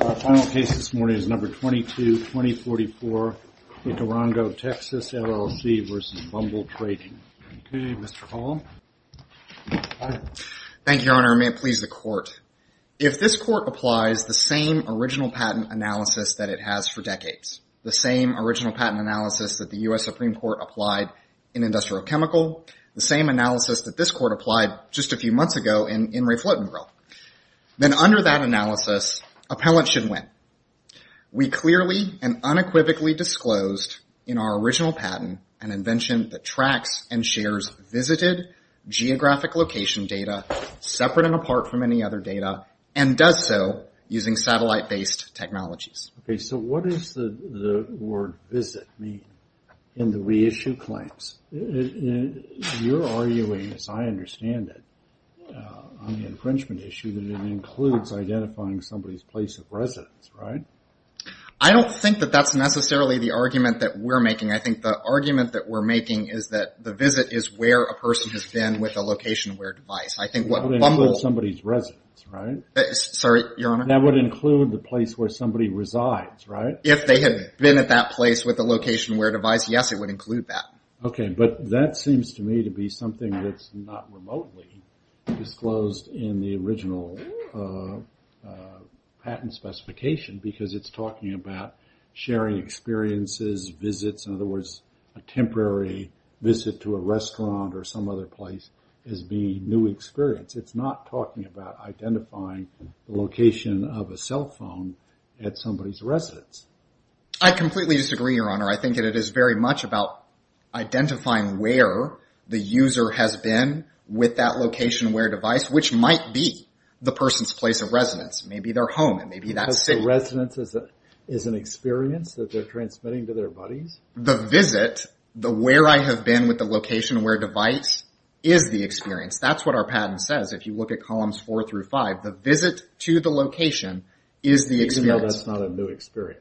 Our final case this morning is number 222044 Ikorongo Texas LLC v. Bumble Trading. Okay, Mr. Hall. Thank you, Your Honor. May it please the Court. If this Court applies the same original patent analysis that it has for decades, the same original patent analysis that the U.S. Supreme Court applied in Industrial Chemical, the same analysis that this Court applied just a few months ago in Ray Flotenborough, then under that analysis, appellants should win. We clearly and unequivocally disclosed in our original patent an invention that tracks and shares visited geographic location data separate and apart from any other data and does so using satellite-based technologies. Okay, so what does the word visit mean in the reissue claims? You're arguing, as I understand it, on the infringement issue that it includes identifying somebody's place of residence, right? I don't think that that's necessarily the argument that we're making. I think the argument that we're making is that the visit is where a person has been with a location-aware device. I think what Bumble... That would include somebody's residence, right? Sorry, Your Honor? That would include the place where somebody resides, right? If they had been at that place with a location-aware device, yes, it would include that. Okay, but that seems to me to be something that's not remotely disclosed in the original patent specification because it's talking about sharing experiences, visits, in other words, a temporary visit to a restaurant or some other place as being new experience. It's not talking about identifying the location of a cell phone at somebody's residence. I completely disagree, Your Honor. I think that it is very much about identifying where the user has been with that location-aware device, which might be the person's place of residence. It may be their home. It may be that city. The residence is an experience that they're transmitting to their buddies? The visit, the where I have been with the location-aware device is the experience. That's what our patent says if you look at columns four through five. The visit to the location is the experience. Even though that's not a new experience.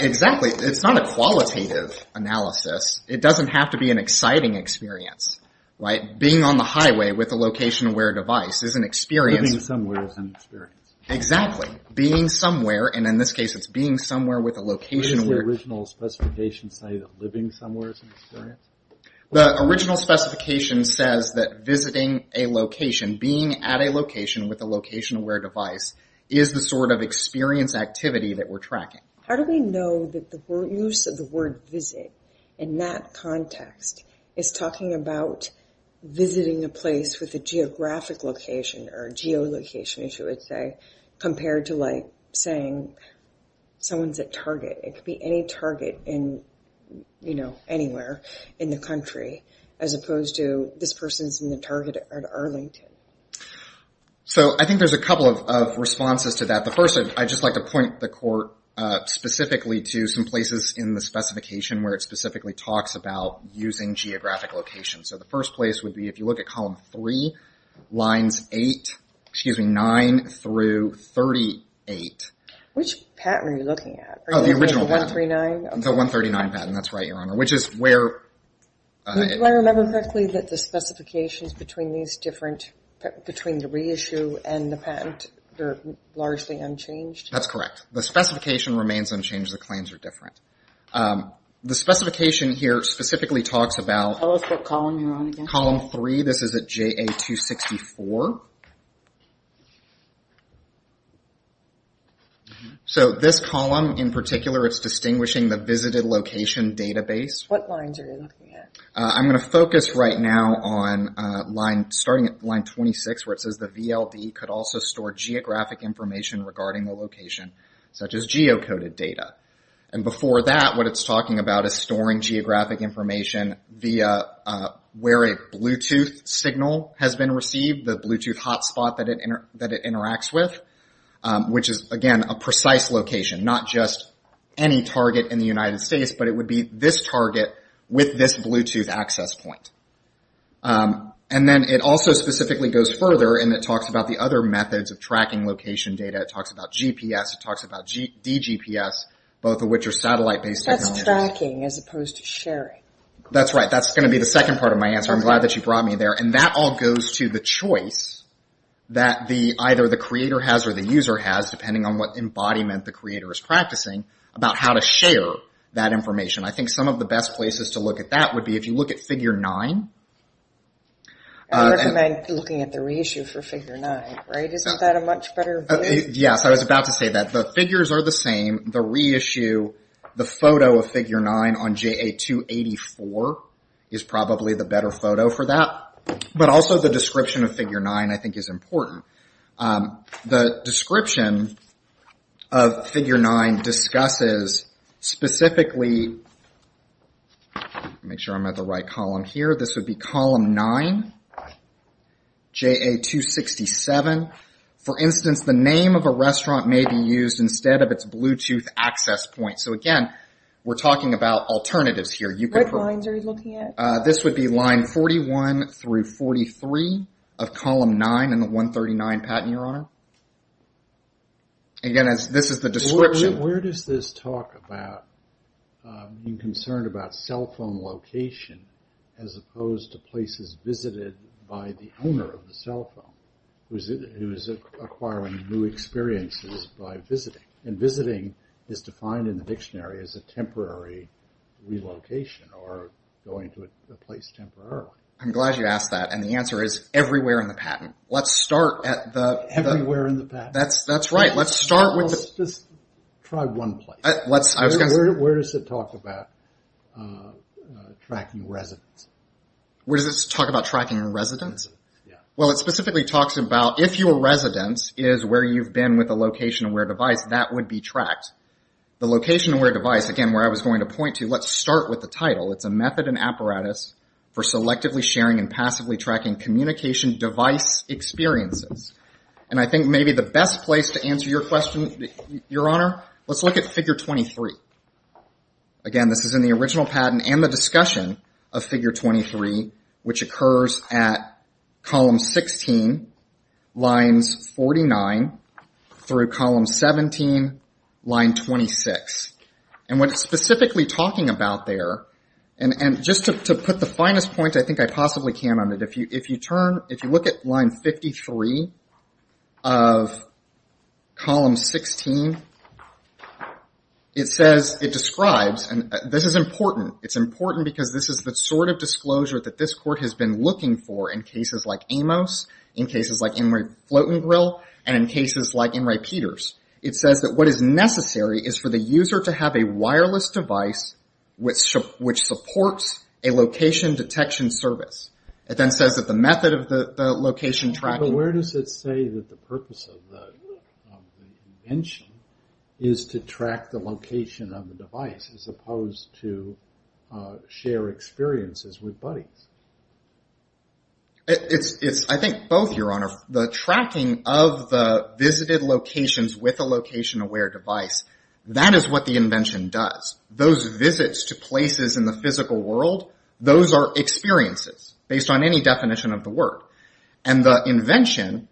Exactly. It's not a qualitative analysis. It doesn't have to be an exciting experience, right? Being on the highway with a location-aware device is an experience. Living somewhere is an experience. Exactly. Being somewhere, and in this case it's being somewhere with a location-aware device. Where does the original specification say that living somewhere is an experience? The original specification says that visiting a location, being at a location with a location-aware device is the sort of experience activity that we're tracking. How do we know that the use of the word visit in that context is talking about visiting a place with a geographic location or a geolocation, as you would say, compared to, like, saying someone's at Target. It could be any Target in, you know, anywhere. in the country, as opposed to this person's in the Target at Arlington. So I think there's a couple of responses to that. The first, I'd just like to point the court specifically to some places in the specification where it specifically talks about using geographic locations. So the first place would be if you look at column three, lines eight, excuse me, nine through thirty-eight. Which patent are you looking at? Oh, the original patent. The 139 patent, that's right, Your Honor. Which is where... Do I remember correctly that the specifications between these different... between the reissue and the patent are largely unchanged? That's correct. The specification remains unchanged. The claims are different. The specification here specifically talks about... Tell us what column you're on again. Column three. This is at JA-264. So this column in particular, it's distinguishing the visited location database. What lines are you looking at? I'm going to focus right now on starting at line 26 where it says the VLD could also store geographic information regarding the location such as geocoded data. And before that, what it's talking about is storing geographic information via where a Bluetooth signal has been received, the Bluetooth hotspot that it interacts with. Which is, again, a precise location. Not just any target in the United States but it would be this target with this Bluetooth access point. And then it also specifically goes further and it talks about the other methods of tracking location data. It talks about GPS, it talks about dGPS, both of which are satellite-based technologies. That's tracking as opposed to sharing. That's right. That's going to be the second part of my answer. I'm glad that you brought me there. And that all goes to the choice that either the creator has or the user has depending on what embodiment the creator is practicing about how to share that information. I think some of the best places to look at that would be if you look at Figure 9. I recommend looking at the reissue for Figure 9. Isn't that a much better view? Yes, I was about to say that. The figures are the same. The reissue, the photo of Figure 9 on JA-284 is probably the better photo for that. But also the description of Figure 9 I think is important. The description of Figure 9 discusses specifically make sure I'm at the right column here. This would be column 9, JA-267. For instance, the name of a restaurant may be used instead of its Bluetooth access point. So again, we're talking about alternatives here. What lines are you looking at? This would be line 41 through 43 of column 9 in the 139 patent, Your Honor. Again, this is the description. Where does this talk about being concerned about cell phone location as opposed to places visited by the owner of the cell phone who is acquiring new experiences by visiting? And visiting is defined in the dictionary as a temporary relocation or going to a place temporarily. I'm glad you asked that, and the answer is everywhere in the patent. Everywhere in the patent. Let's just try one place. Where does it talk about tracking residents? Well, it specifically talks about if your residence is where you've been with a location-aware device, that would be tracked. The location-aware device, again, where I was going to point to, let's start with the title. It's a method and apparatus for selectively sharing and passively tracking communication device experiences. And I think maybe the best place to answer your question, Your Honor, let's look at Figure 23. Again, this is in the original patent and the discussion of Figure 23, which occurs at Column 16, Lines 49 through Column 17, Line 26. And what it's specifically talking about there, and just to put the finest point I think I possibly can on it, if you look at Line 53 of Column 16, it says, it describes, and this is important. It's important because this is the sort of disclosure that this Court has been looking for in cases like Amos, in cases like Enright-Flotengrill, and in cases like Enright-Peters. It says that what is necessary is for the user to have a wireless device which supports a location detection service. It then says that the method of the location tracking... But where does it say that the purpose of the invention is to track the location of the device as opposed to share experiences with buddies? I think both, Your Honor. The tracking of the visited locations with a location-aware device, that is what the invention does. Those visits to places in the physical world, those are experiences based on any definition of the word. And the invention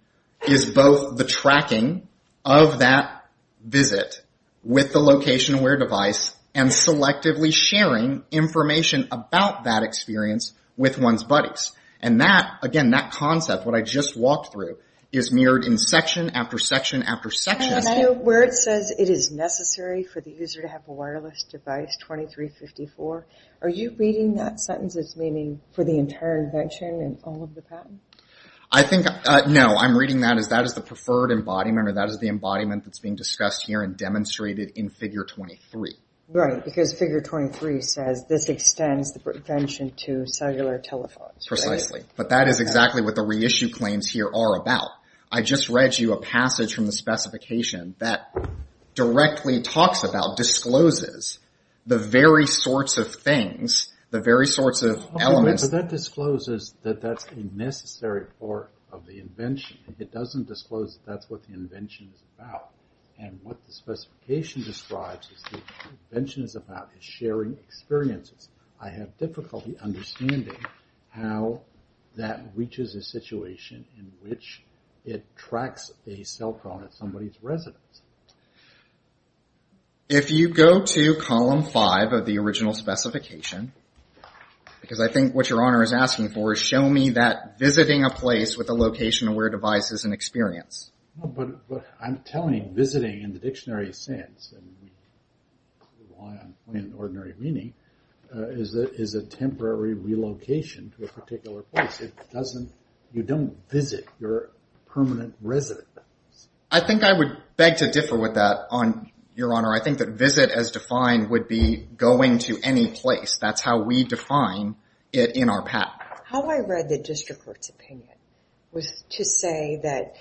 is both the tracking of that visit with the location-aware device and selectively sharing information about that experience with one's buddies. And that, again, that concept, what I just walked through is mirrored in section after section after section. Can I ask where it says it is necessary for the user to have a wireless device, 2354? Are you reading that sentence as meaning for the entire invention and all of the patents? I think, no, I'm reading that as that is the preferred embodiment or that is the embodiment that's being discussed here and demonstrated in figure 23. Right, because figure 23 says this extends the prevention to cellular telephones. Precisely. But that is exactly what the reissue claims here are about. I just read you a passage from the specification that directly talks about, discloses the very sorts of things, the very sorts of elements. But that discloses that that's a necessary part of the invention. It doesn't disclose that that's what the invention is about. And what the specification describes is that the invention is about sharing experiences. I have difficulty understanding how that reaches a situation in which it tracks a cell phone at somebody's residence. If you go to 5 of the original specification, because I think what Your Honor is asking for is show me that visiting a place with a location-aware device is an experience. But I'm telling visiting in the dictionary sense, and we rely on plain and ordinary meaning, is a temporary relocation to a particular place. You don't visit your permanent residence. I think I would beg to differ with that Your Honor, I think that visit as defined would be going to any place. That's how we define it in our patent. How I read the district court's opinion was to say that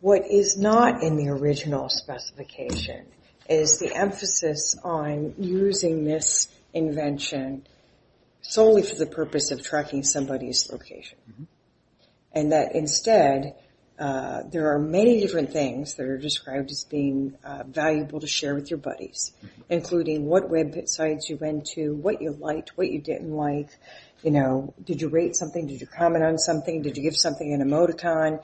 what is not in the original specification is the emphasis on using this invention solely for the purpose of tracking somebody's location. And that instead there are many different things that are described as being valuable to share with your buddies, including what websites you went to, what you liked, what you didn't like. Did you rate something? Did you comment on something? Did you give something in emoticon?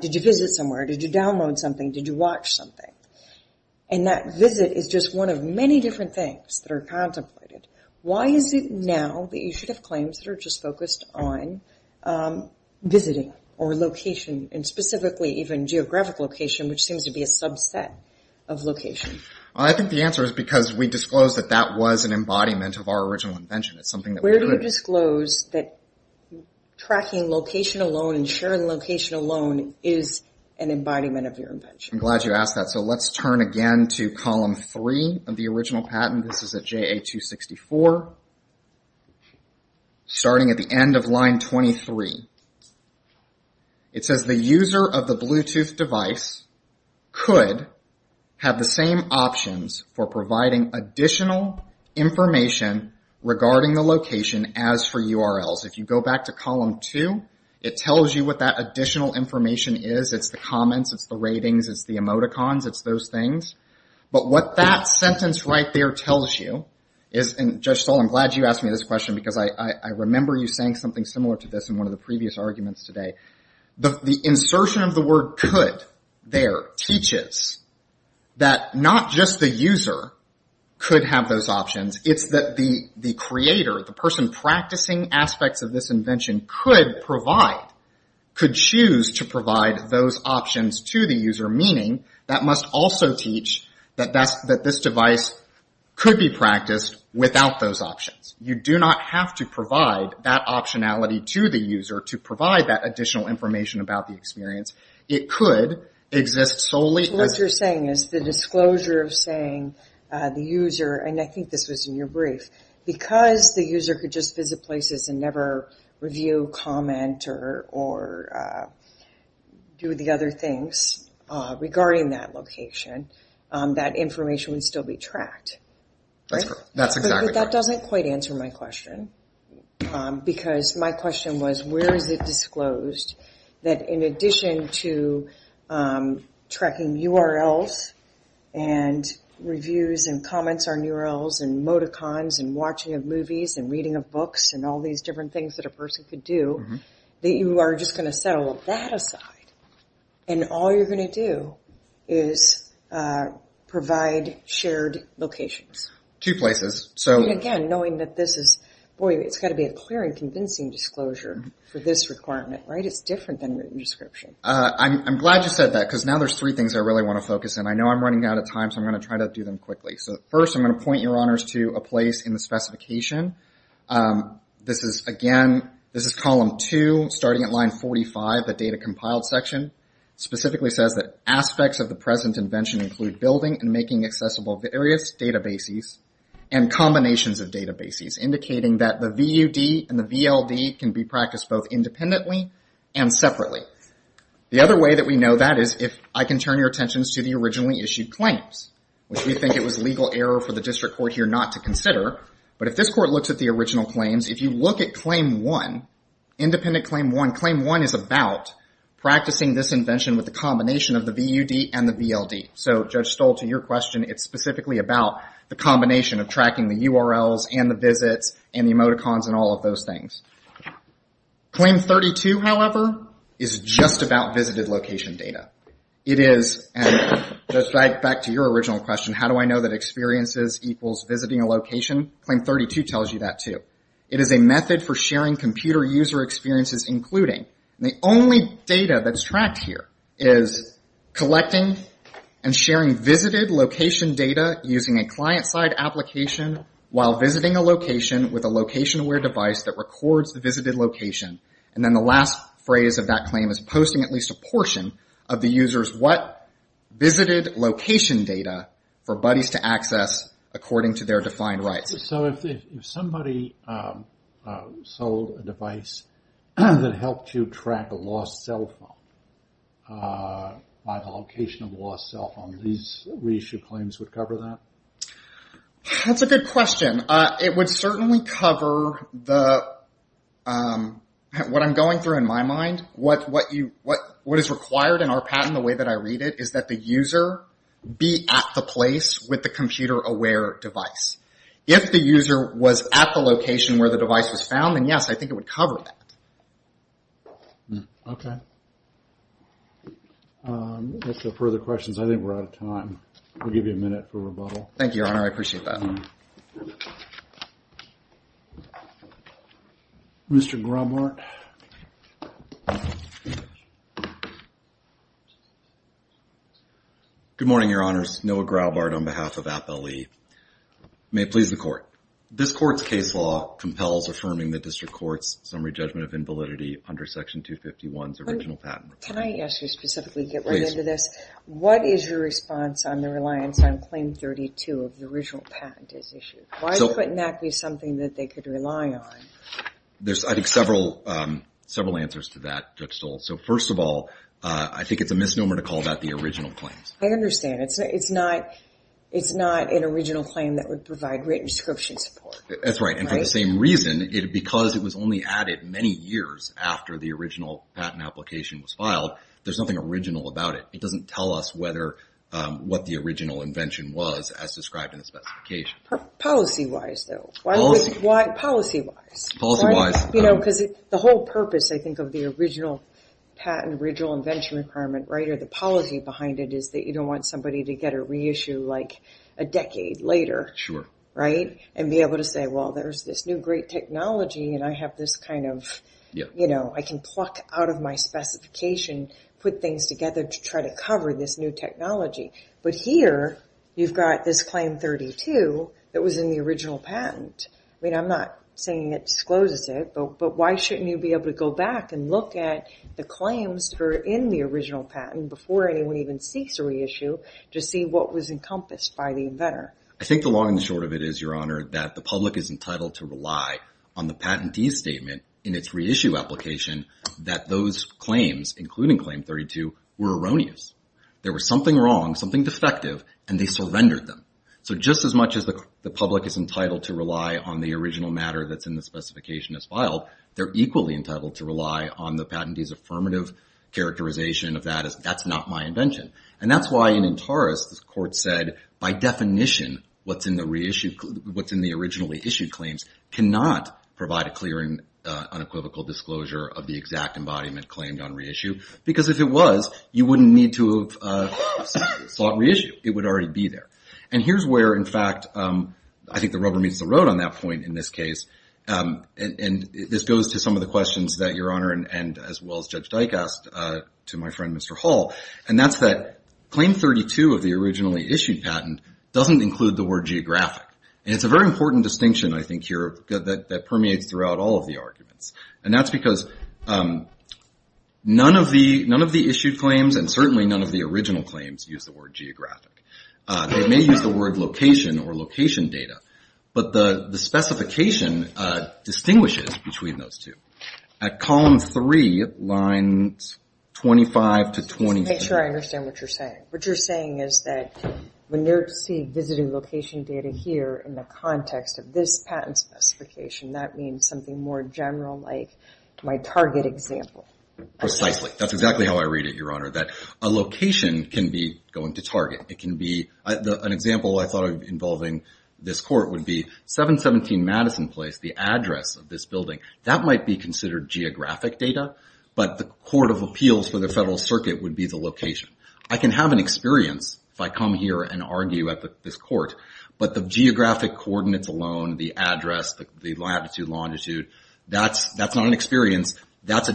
Did you visit somewhere? Did you download something? Did you watch something? And that visit is just one of many different things that are contemplated. Why is it now that you should have claims that are just focused on visiting or location, and specifically even geographic location, which seems to be a subset of location? I think the answer is because we disclosed that that was an embodiment of our original invention. Where do you disclose that tracking location alone and sharing location alone is an embodiment of your invention? I'm glad you asked that. So let's turn again to column 3 of the original patent. This is at JA-264. Starting at the end of line 23. It says the user of the Bluetooth device could have the same options for providing additional information regarding the location as for URLs. If you go back to column 2, it tells you what that additional information is. It's the comments, it's the ratings, it's the emoticons, it's those things. But what that sentence right there tells you is, and Judge Saul, I'm glad you asked me this question because I remember you saying something similar to this in one of the previous arguments today. The insertion of the word could there teaches that not just the user could have those options, it's that the creator, the person practicing aspects of this invention could provide, could choose to provide those options to the user, meaning that must also teach that this device could be practiced without those options. You do not have to provide that optionality to the user to provide that additional information about the experience. It could exist solely... So what you're saying is the disclosure of saying the user, and I think this was in your brief, because the user could just visit places and never review, comment, or do the other things regarding that location, that information would still be tracked. That doesn't quite answer my question because my question was where is it disclosed that in addition to tracking URLs and reviews and comments on URLs and emoticons and watching of movies and reading of books and all these different things that a person could do, that you are just going to throw that aside and all you're going to do is provide shared locations. Two places. Again, knowing that this is, boy, it's got to be a clear and convincing disclosure for this requirement, right? It's different than written description. I'm glad you said that because now there's three things I really want to focus on. I know I'm running out of time so I'm going to try to do them quickly. So first I'm going to point your honors to a place in the specification. This is, again, this is column two, starting at line 45, the data compiled section. Specifically says that aspects of the present invention include building and making accessible various databases and combinations of databases indicating that the VUD and the VLD can be practiced both independently and separately. The other way that we know that is if I can turn your attentions to the originally issued claims, which we think it was legal error for the district court here not to consider, but if this court looks at the original claims, if you look at claim one, independent claim one, claim one is about practicing this invention with the combination of the VUD and the VLD. So, Judge Stoll, to your question, it's specifically about the combination of tracking the URLs and the visits and the emoticons and all of those things. Claim 32, however, is just about visited location data. It is and back to your original question, how do I know that claim 32 tells you that too. It is a method for sharing computer user experiences including. The only data that's tracked here is collecting and sharing visited location data using a client-side application while visiting a location with a location-aware device that records the visited location. And then the last phrase of that claim is posting at least a portion of the user's what visited location data for buddies to If somebody sold a device that helped you track a lost cell phone by the location of the lost cell phone, these reissue claims would cover that? That's a good question. It would certainly cover the what I'm going through in my mind. What is required in our patent, the way that I read it, is that the user be at the place with the computer aware device. If the user was at the location where the device was found, then yes, I think it would cover that. Okay. If there are further questions, I think we're out of time. We'll give you a minute for rebuttal. Thank you, Your Honor. I appreciate that. Mr. Graubart. Good morning, Your Honors. Noah Graubart on behalf of Appellee. May it please the Court. This Court's case law compels affirming the District Court's summary judgment of invalidity under Section 251's original patent. Can I ask you specifically to get right into this? Please. What is your response on the reliance on Claim 32 of the original patent as issued? Why couldn't that be something that they could rely on? There's, I think, several answers to that, Judge Stoll. So first of all, I think it's a misnomer to call that the original claim. I understand. It's not an original claim that would provide written description support. That's right. And for the same reason, because it was only added many years after the original patent application was filed, there's nothing original about it. It doesn't tell us what the original invention was as described in the specification. Policy-wise, though. Policy-wise. Policy-wise. Because the whole purpose, I think, of the policy behind it is that you don't want somebody to get a reissue like a decade later. Sure. Right? And be able to say, well, there's this new great technology and I have this kind of, you know, I can pluck out of my specification, put things together to try to cover this new technology. But here, you've got this Claim 32 that was in the original patent. I mean, I'm not saying it discloses it, but why shouldn't you be able to go back and look at the claims that are in the original patent before anyone even seeks a reissue to see what was encompassed by the inventor? I think the long and the short of it is, Your Honor, that the public is entitled to rely on the patentee's statement in its reissue application that those claims, including Claim 32, were erroneous. There was something wrong, something defective, and they surrendered them. So just as much as the public is entitled to rely on the original matter that's in the specification as filed, they're equally entitled to rely on the patentee's affirmative characterization of that as, that's not my invention. And that's why in Intaris, the Court said, by definition, what's in the reissue, what's in the originally issued claims cannot provide a clear and unequivocal disclosure of the exact embodiment claimed on reissue. Because if it was, you wouldn't need to have sought reissue. It would already be there. And here's where, in fact, I think the rubber meets the road on that point in this case. And this goes to some of the questions that Your Honor and as well as Judge Dike asked to my friend, Mr. Hall. And that's that Claim 32 of the originally issued patent doesn't include the word geographic. And it's a very important distinction, I think, here that permeates throughout all of the arguments. And that's because none of the issued claims and certainly none of the original claims use the word geographic. They may use the word location or location data. But the specification distinguishes between those two. At column 3, lines 25 to 27. Just to make sure I understand what you're saying. What you're saying is that when you see visiting location data here in the context of this patent specification, that means something more general like my target example. Precisely. That's exactly how I read it, Your Honor. That a location can be going to target. An example I thought of involving this court would be 717 Madison Place, the address of this building. That might be considered geographic data. But the Court of Appeals for the Federal Circuit would be the location. I can have an experience if I come here and argue at this court. But the geographic coordinates alone, the address, the latitude, longitude, that's not an experience. That's a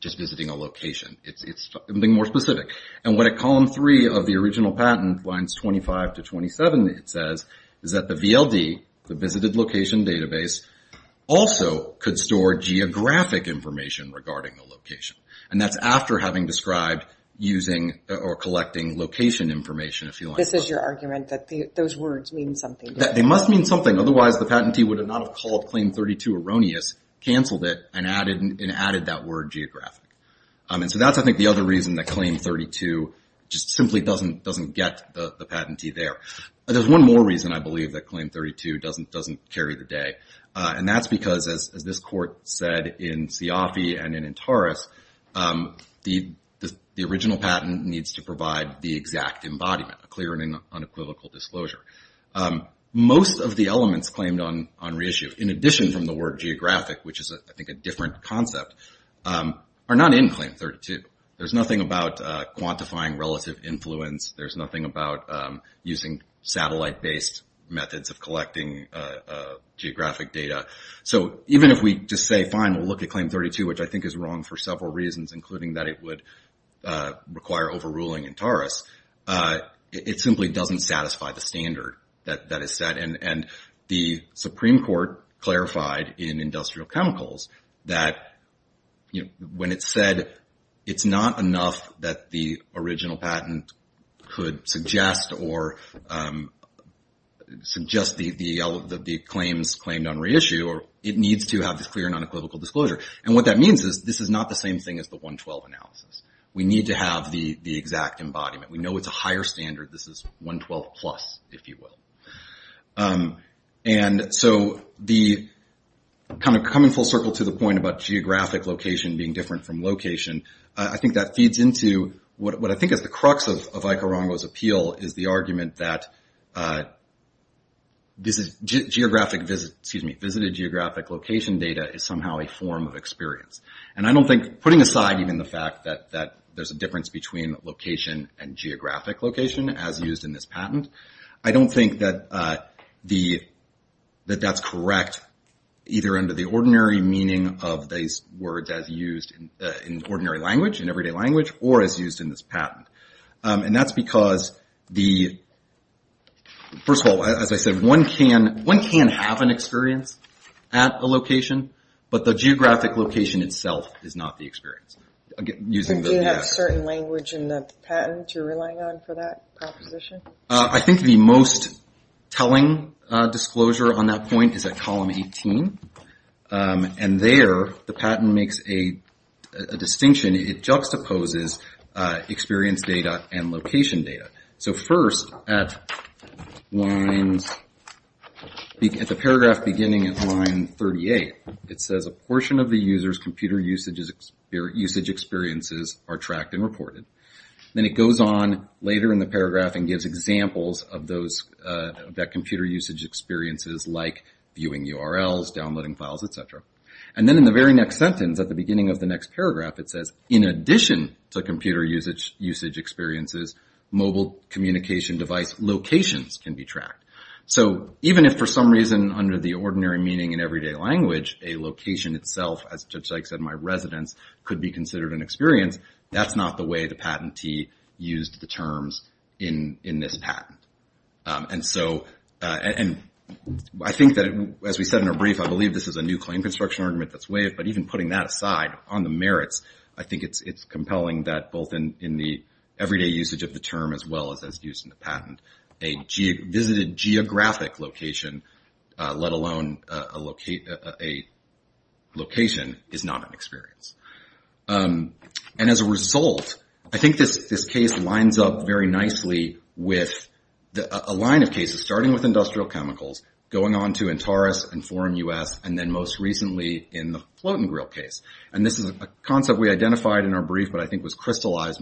just visiting a location. It's something more specific. At column 3 of the original patent, lines 25 to 27, it says that the VLD, the Visited Location Database, also could store geographic information regarding the location. That's after having described using or collecting location information. This is your argument that those words mean something. They must mean something. Otherwise, the patentee would not have called claim 32 erroneous, canceled it, and added that word geographic. That's, I think, the other reason that claim 32 just simply doesn't get the patentee there. There's one more reason, I believe, that claim 32 doesn't carry the day. That's because, as this court said in Siafi and in Intaris, the original patent needs to provide the exact embodiment, a clear and unequivocal disclosure. Most of the elements claimed on reissue, in addition from the word geographic, which is, I think, a different concept, are not in claim 32. There's nothing about quantifying relative influence. There's nothing about using satellite-based methods of collecting geographic data. So even if we just say, fine, we'll look at claim 32, which I think is wrong for several reasons, including that it would require overruling in Intaris, it simply doesn't satisfy the standard that is set. And the Supreme Court clarified in Industrial Chemicals that when it's said it's not enough that the original patent could suggest or suggest the claims claimed on reissue, it needs to have this clear and unequivocal disclosure. And what that means is this is not the same thing as the 112 analysis. We need to have the exact embodiment. We know it's a higher standard. This is 112+, if you will. And so the kind of coming full circle to the point about geographic location being different from location, I think that feeds into what I think is the crux of Aikarongo's appeal, is the argument that visited geographic location data is somehow a form of experience. And I don't think, putting aside even the fact that there's a difference between location and geographic location as used in this patent, I don't think that that's correct either under the ordinary meaning of these words as used in ordinary language, in everyday language, or as used in this patent. And that's because, first of all, as I said, one can have an experience at a location, but the geographic location itself is not the experience. Do you have certain language in the patent you're relying on for that proposition? I think the most telling disclosure on that point is at column 18. And there, the patent makes a distinction. It juxtaposes experience data and location data. So first, at the paragraph beginning at line 38, it says a portion of the user's computer usage experiences are tracked and reported. Then it goes on later in the paragraph and gives examples of those computer usage experiences, like viewing URLs, downloading files, etc. And then in the very next sentence at the beginning of the next paragraph, it says, in addition to computer usage experiences, mobile communication device locations can be tracked. So even if for some reason, under the ordinary meaning in everyday language, a location itself, as Judge Sykes said, my residence, could be considered an experience, that's not the way the patentee used the terms in this patent. And I think that, as we said in a brief, I believe this is a new claim construction argument that's waived, but even putting that aside, on the merits, I think it's compelling that both in the everyday usage of the term as well as used in the patent, a visited geographic location, let alone a location, is not an experience. And as a result, I think this case lines up very nicely with a line of cases, starting with industrial chemicals, going on to Antares and Forum U.S., and then most recently in the float and grill case. And this is a concept we identified in our brief, but I think was an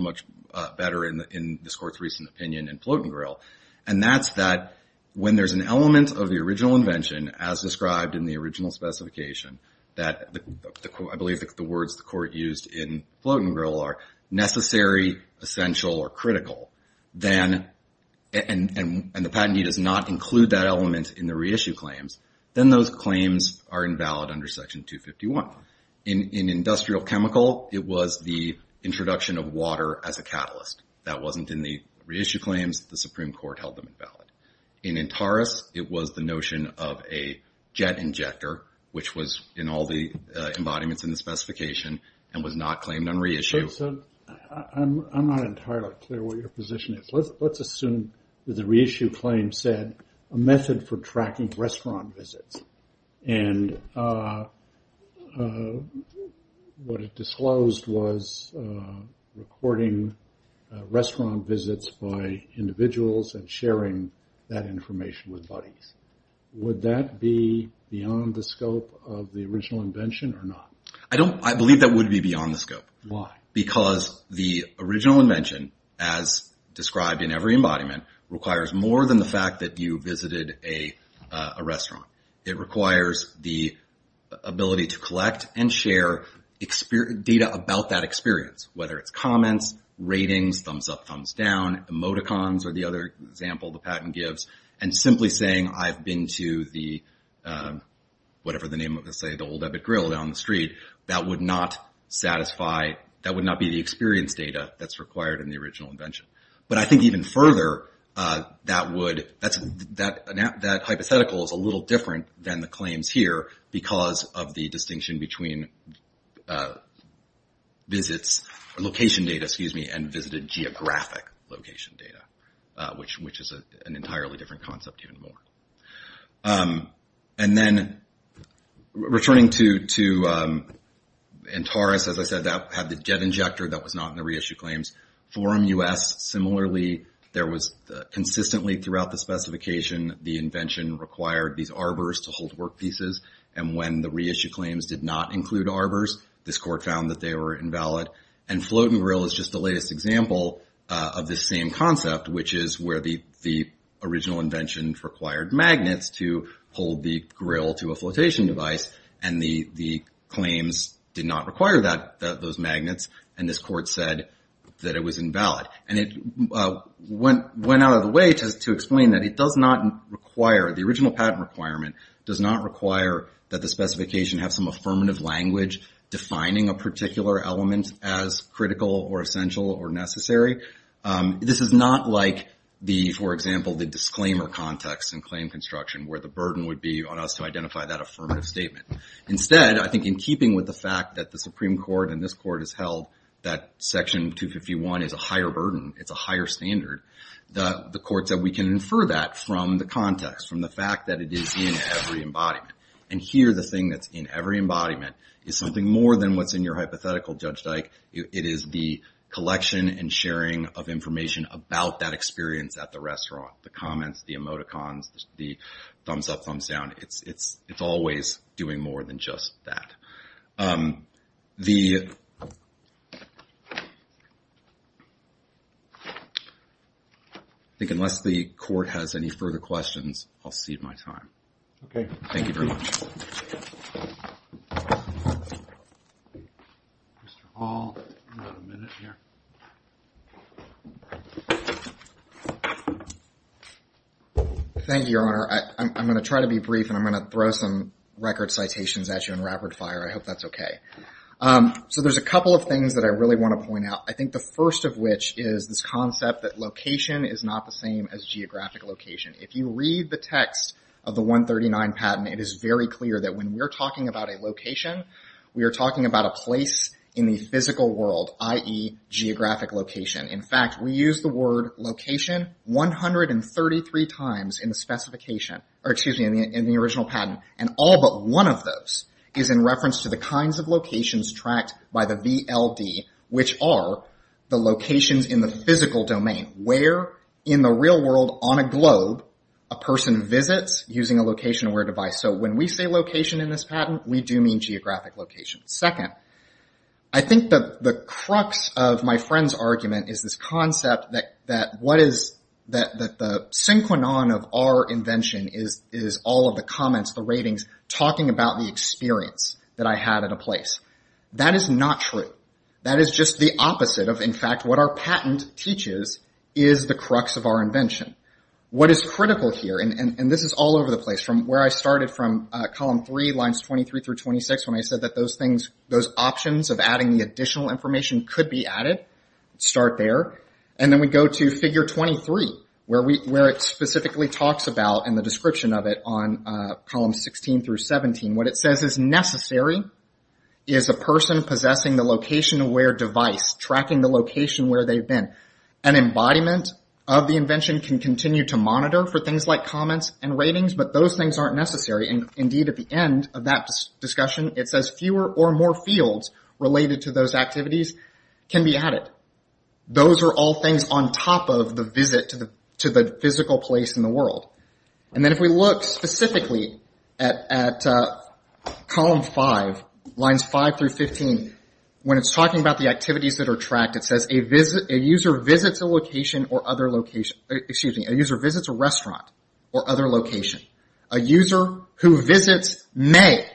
opinion in float and grill, and that's that when there's an element of the original invention, as described in the original specification, that I believe the words the court used in float and grill are necessary, essential, or critical, and the patentee does not include that element in the reissue claims, then those claims are invalid under Section 251. In industrial chemical, it was the introduction of water as a catalyst. That wasn't in the reissue claims, the Supreme Court held them invalid. In Antares, it was the notion of a jet injector, which was in all the embodiments in the specification, and was not claimed on reissue. I'm not entirely clear what your position is. Let's assume that the reissue claim said a method for tracking restaurant visits. And what it disclosed was recording restaurant visits by individuals and sharing that information with buddies. Would that be beyond the scope of the original invention or not? I believe that would be beyond the scope. Why? Because the original invention, as described in every embodiment, requires more than the fact that you visited a restaurant. It requires the ability to collect and share data about that experience, whether it's comments, ratings, thumbs up, thumbs down, emoticons or the other example the patent gives, and simply saying I've been to the whatever the name of the place, the Old Ebbet Grill down the street, that would not be the experience data that's required in the original invention. But I think even further, that hypothetical is a little different than the claims here because of the distinction between location data and visited geographic location data, which is an entirely different concept even more. And then returning to Antares, as I said, that had the jet injector that was not in the reissue claims. Forum U.S., similarly, there was consistently throughout the specification, the invention required these arbors to hold workpieces, and when the reissue claims did not include arbors, this court found that they were invalid. And float and grill is just the latest example of this same concept, which is where the original invention required magnets to hold the grill to a flotation device and the claims did not require those magnets, and this court said that it was invalid. And it went out of the way to explain that it does not require, the original patent requirement does not require that the specification have some affirmative language defining a particular element as critical or essential or necessary. This is not like the, for example, the disclaimer context in claim construction where the burden would be on us to identify that affirmative statement. Instead, I think in keeping with the fact that the Supreme Court and this court has held that section 251 is a higher burden, it's a higher standard, the court said we can infer that from the context, from the fact that it is in every embodiment. And here the thing that's in every embodiment is something more than what's in your hypothetical Judge Dyke. It is the collection and sharing of information about that experience at the restaurant. The comments, the emoticons, the always doing more than just that. I think unless the court has any further questions, I'll cede my time. Thank you very much. Thank you, Your Honor. I'm going to try to be brief and I'm going to throw some record citations at you in rapid fire. I hope that's okay. So there's a couple of things that I really want to point out. I think the first of which is this concept that location is not the same as geographic location. If you read the text of the 139 patent it is very clear that when we're talking about a location we are talking about a place in the physical world i.e. geographic location. In fact, we use the word location 133 times in the original patent. And all but one of those is in reference to the kinds of locations tracked by the VLD which are the locations in the physical domain where in the real world on a globe a person visits using a location aware device. So when we say location in this patent, we do mean geographic location. Second, I think the crux of my friend's argument is this concept that the synchronon of our invention is all of the comments, the ratings talking about the experience that I had at a place. That is not true. That is just the opposite of what our patent teaches is the crux of our invention. What is critical here, and this is all over the place from where I started from column 3, lines 23 through 26 when I said that those options of adding the additional information could be added, start there. And then we go to figure 23 where it specifically talks about in the description of it on column 16 through 17, what it says is necessary is a person possessing the location aware device tracking the location where they've been. An embodiment of the invention can continue to monitor for things like comments and ratings, but those things aren't necessary. Indeed, at the end of that discussion it says fewer or more fields related to those activities can be added. Those are all things on top of the visit to the physical place in the world. And then if we look specifically at column 5, lines 5 through 15 when it's talking about the activities that are tracked, it says a user visits a location or other location, excuse me, a user visits a restaurant or other location. A user who visits may,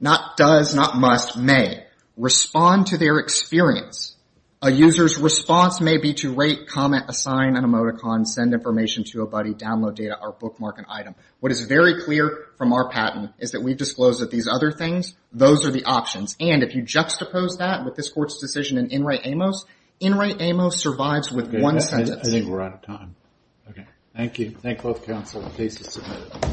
not does, not must, may respond to their experience. A user's response may be to rate, comment, assign an emoticon, send information to a buddy, download data or bookmark an item. What is very clear from our patent is that we've disclosed that these other things, those are the options. And if you juxtapose that with this court's decision in Enright Amos Enright Amos survives with one sentence. I think we're out of time. Thank you. Thank both counsel. The case is submitted.